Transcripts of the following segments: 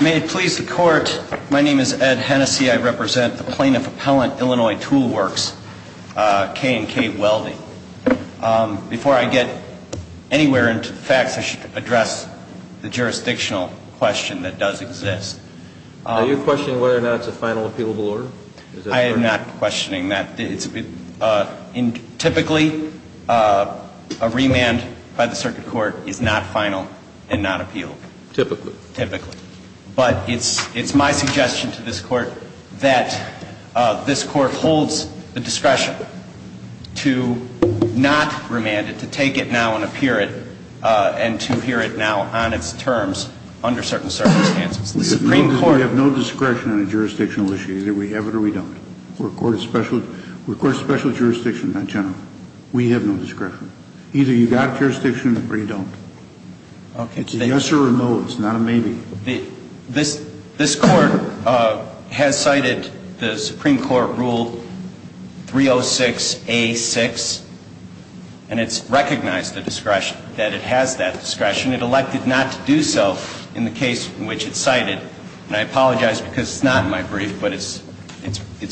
May it please the court, my name is Ed Hennessey, I represent the Plaintiff Appellant, Illinois Tool Works, K&K Welding. Before I get anywhere into the facts, I should address the jurisdictional does exist. Are you questioning whether or not it's a final appealable order? I am not questioning that. Typically, a remand by the circuit court is not final and not appealable. Typically. Typically. But it's my suggestion to this court that this court holds the discretion to not remand it, to take it now and appear it, and to appear it now on its terms under certain circumstances. We have no discretion on a jurisdictional issue, either we have it or we don't. We're a court of special jurisdiction, not general. We have no discretion. Either you've got jurisdiction or you don't. It's a yes or a no, it's not a maybe. This court has cited the Supreme Court Rule 306A.6, and it's recognized the discretion, that it has that discretion. It elected not to do so in the case in which it's cited. And I apologize because it's not in my brief, but it's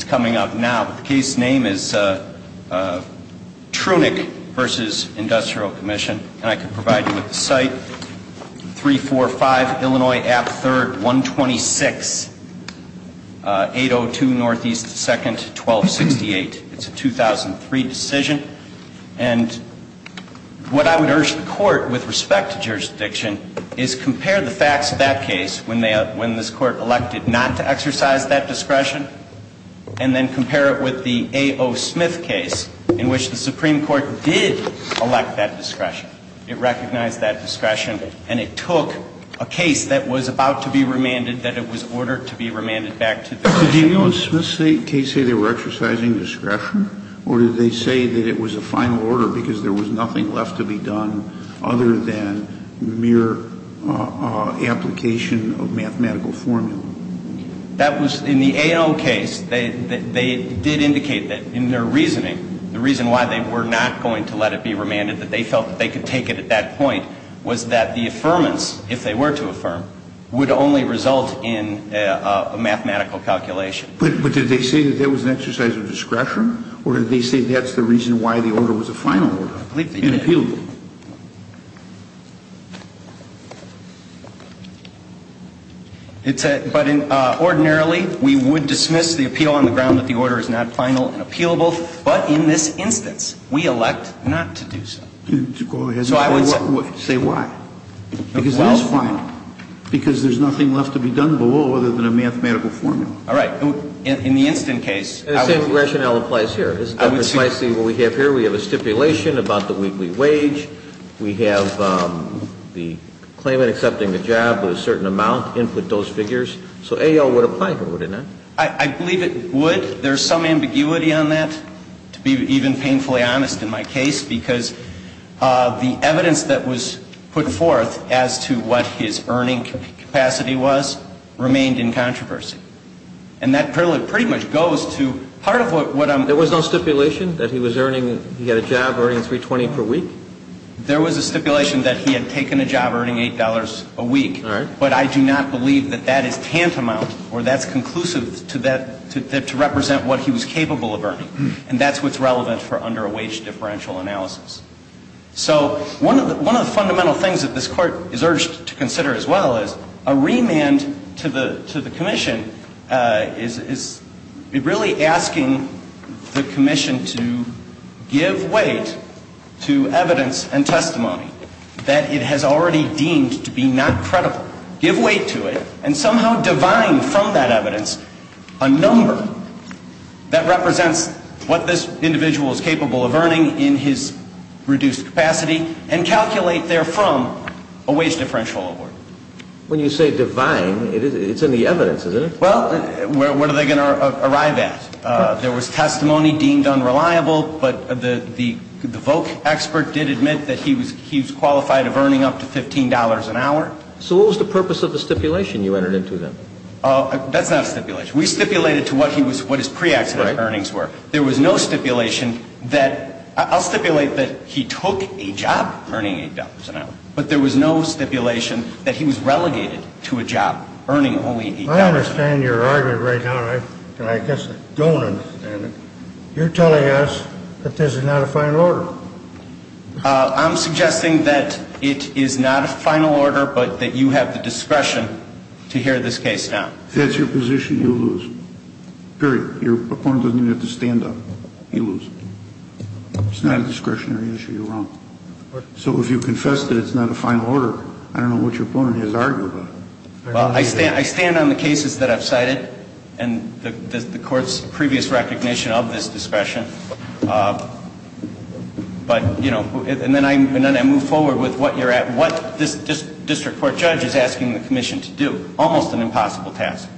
coming up now. The case name is Trunick v. Industrial Commission, and I can provide you with the site, 345 Illinois Ave. 3rd, 126802 N.E. 2nd, 1268. It's a 2003 decision. And what I would urge the court, with respect to jurisdiction, is compare the facts of that case when this court elected not to exercise that discretion, and then compare it with the A.O. Smith case, in which the Supreme Court did elect that discretion. It recognized that discretion, and it took a case that was about to be remanded, that it was ordered to be remanded back to the discretion. Kennedy. Did A.O. Smith's case say they were exercising discretion, or did they say that it was a final order because there was nothing left to be done other than mere application of mathematical formula? That was in the A.O. case, they did indicate that in their reasoning, the reason why they were not going to let it be remanded, that they felt that they could take it at that point, was that the affirmance, if they were to affirm, would only result in a mathematical calculation. But did they say that there was an exercise of discretion, or did they say that's the reason why the order was a final order and appealed it? But ordinarily, we would dismiss the appeal on the ground that the order is not final and appealable, but in this instance, we elect not to do so. So I would say why? Because it is final, because there's nothing left to be done below other than a mathematical formula. All right. In the instant case, I would say... The same rationale applies here. This is precisely what we have here. We have a stipulation about the weekly wage. We have the claimant accepting the job with a certain amount, input those figures. So A.O. would apply here, would it not? I believe it would. There's some ambiguity on that, to be even painfully honest in my case, because the evidence that was put forth as to what his earning capacity was remained in controversy. And that pretty much goes to part of what I'm... There was no stipulation that he was earning, he had a job earning $3.20 per week? There was a stipulation that he had taken a job earning $8 a week, but I do not believe that that is tantamount or that's conclusive to that, to represent what he was capable of earning. And that's what's relevant for under a wage differential analysis. So one of the fundamental things that this Court is urged to consider as well is a remand to the Commission is really asking the Commission to give weight to evidence and testimony that it has already deemed to be not credible. Give weight to it and somehow divine from that evidence a number that represents what this individual is capable of earning in his reduced capacity and calculate therefrom a wage differential award. When you say divine, it's in the evidence, isn't it? Well, what are they going to arrive at? There was testimony deemed unreliable, but the Voke expert did admit that he was qualified of earning up to $15 an hour. So what was the purpose of the stipulation you entered into then? That's not a stipulation. We stipulated to what his pre-accident earnings were. There was no stipulation that... I'll stipulate that he took a job earning $8 an hour, but there was no stipulation that he was relegated to a job earning only $8 an hour. I understand your argument right now, and I guess I don't understand it. You're telling us that this is not a final order. I'm suggesting that it is not a final order, but that you have the discretion to hear this case now. If that's your position, you lose. Period. Your opponent doesn't even have to stand up. You lose. It's not a discretionary issue. You're wrong. So if you confess that it's not a final order, I don't know what your opponent has argued about it. Well, I stand on the cases that I've cited and the Court's previous recognition of this discretion. But, you know, and then I move forward with what you're at, what this district court judge is asking the Commission to do. Almost an impossible task.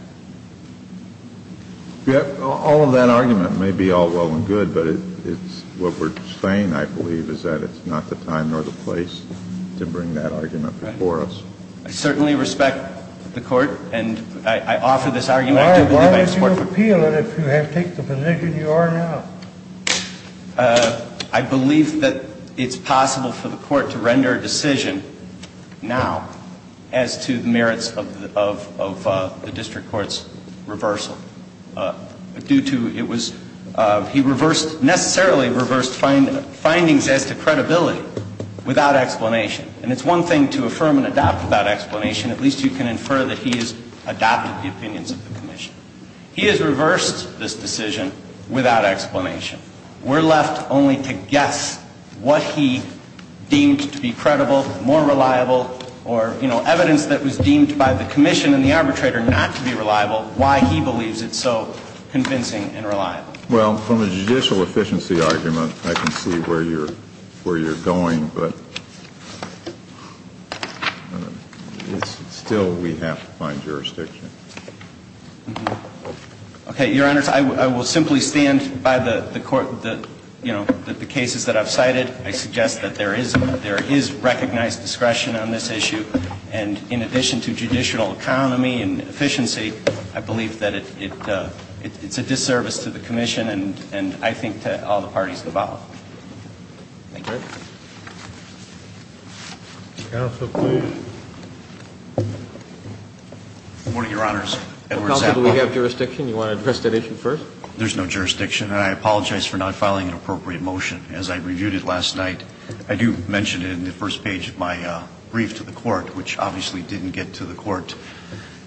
All of that argument may be all well and good, but it's what we're saying, I believe, is that it's not the time nor the place to bring that argument before us. I certainly respect the Court, and I offer this argument. Why don't you appeal it if you have taken the position you are now? I believe that it's possible for the Court to render a decision now as to the merits of the district court's reversal. Due to it was he reversed, necessarily reversed findings as to credibility without explanation. And it's one thing to affirm and adopt without explanation. At least you can infer that he has adopted the opinions of the Commission. He has reversed this decision without explanation. We're left only to guess what he deemed to be credible, more reliable, or, you know, evidence that was deemed by the Commission and the arbitrator not to be reliable, why he believes it's so convincing and reliable. Well, from a judicial efficiency argument, I can see where you're going, but still we have to find jurisdiction. Okay. Your Honors, I will simply stand by the Court, you know, the cases that I've cited. I suggest that there is recognized discretion on this issue. And in addition to judicial economy and efficiency, I believe that it's a disservice to the Commission and I think to all the parties involved. Thank you. Counsel, please. Good morning, Your Honors. Edward Zappa. Counsel, do we have jurisdiction? You want to address that issue first? There's no jurisdiction. And I apologize for not filing an appropriate motion. As I reviewed it last night, I do mention it in the first page of my brief to the Court, which obviously didn't get to the Court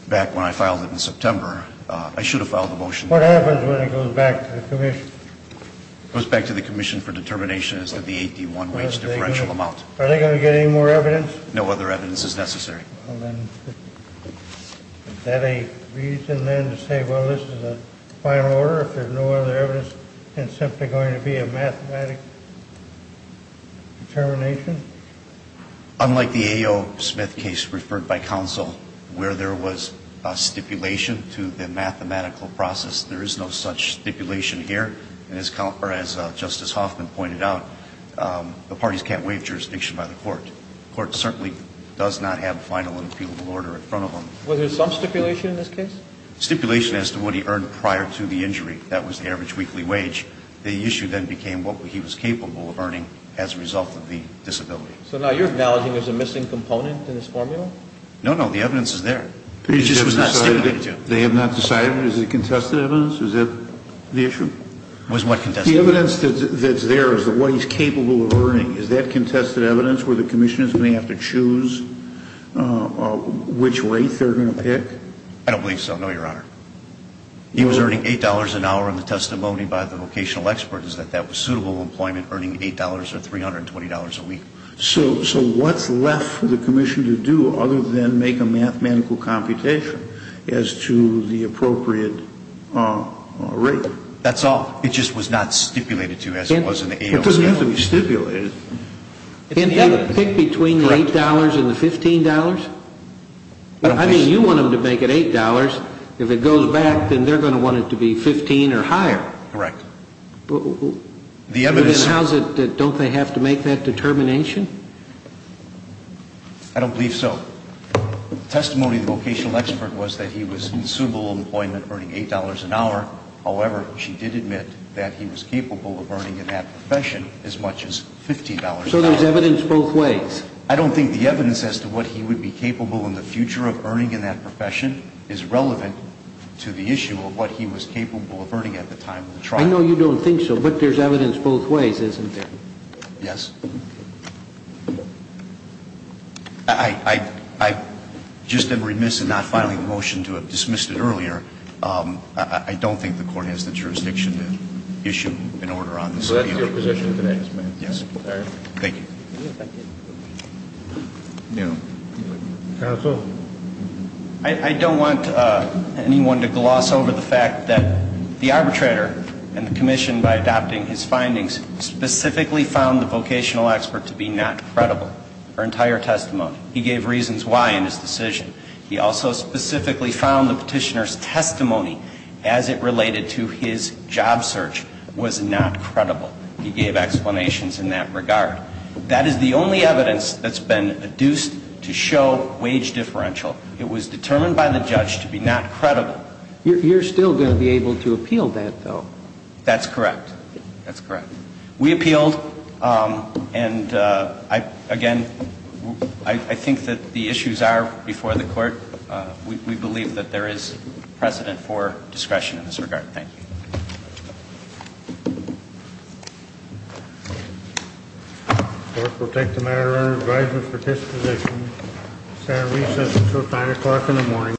back when I filed it in September. I should have filed a motion. What happens when it goes back to the Commission? It goes back to the Commission for determination as to the 8D1 wage differential amount. Are they going to get any more evidence? No other evidence is necessary. Is that a reason, then, to say, well, this is a final order? If there's no other evidence, it's simply going to be a mathematic determination? Unlike the A.O. Smith case referred by Counsel, where there was a stipulation to the mathematical process, there is no such stipulation here. And as Justice Hoffman pointed out, the parties can't waive jurisdiction by the Court. The Court certainly does not have a final and appealable order in front of them. Was there some stipulation in this case? Stipulation as to what he earned prior to the injury. That was the average weekly wage. The issue then became what he was capable of earning as a result of the disability. So now you're acknowledging there's a missing component in this formula? No, no. The evidence is there. It just was not stipulated to. They have not decided? Is it contested evidence? Is that the issue? Was what contested? The evidence that's there is what he's capable of earning. Is that contested evidence where the Commission is going to have to choose which rate they're going to pick? I don't believe so, no, Your Honor. He was earning $8 an hour in the testimony by the vocational expert, is that that was suitable employment, earning $8 or $320 a week. So what's left for the Commission to do other than make a mathematical computation as to the appropriate rate? That's all. It just was not stipulated to as it was in the AOC. It doesn't have to be stipulated. Can they pick between the $8 and the $15? I mean, you want them to make it $8. If it goes back, then they're going to want it to be $15 or higher. Correct. The evidence Then don't they have to make that determination? I don't believe so. The testimony of the vocational expert was that he was in suitable employment earning $8 an hour. However, she did admit that he was capable of earning in that profession as much as $15 an hour. So there's evidence both ways? I don't think the evidence as to what he would be capable in the future of earning in that profession is relevant to the issue of what he was capable of earning at the time of the trial. I know you don't think so, but there's evidence both ways, isn't there? Yes. I just am remiss in not filing a motion to have dismissed it earlier. I don't think the court has the jurisdiction to issue an order on this. So that's your position today? Yes. All right. Thank you. Counsel? I don't want anyone to gloss over the fact that the arbitrator and the commission, by adopting his findings, specifically found the vocational expert to be not credible. Her entire testimony. He gave reasons why in his decision. He also specifically found the petitioner's testimony as it related to his job search was not credible. He gave explanations in that regard. That is the only evidence that's been adduced to show wage differential. It was determined by the judge to be not credible. You're still going to be able to appeal that, though? That's correct. That's correct. We appealed, and again, I think that the issues are before the court. We believe that there is precedent for discretion in this regard. Thank you. The court will take the matter under advisory for this position. Senate recess until 5 o'clock in the morning.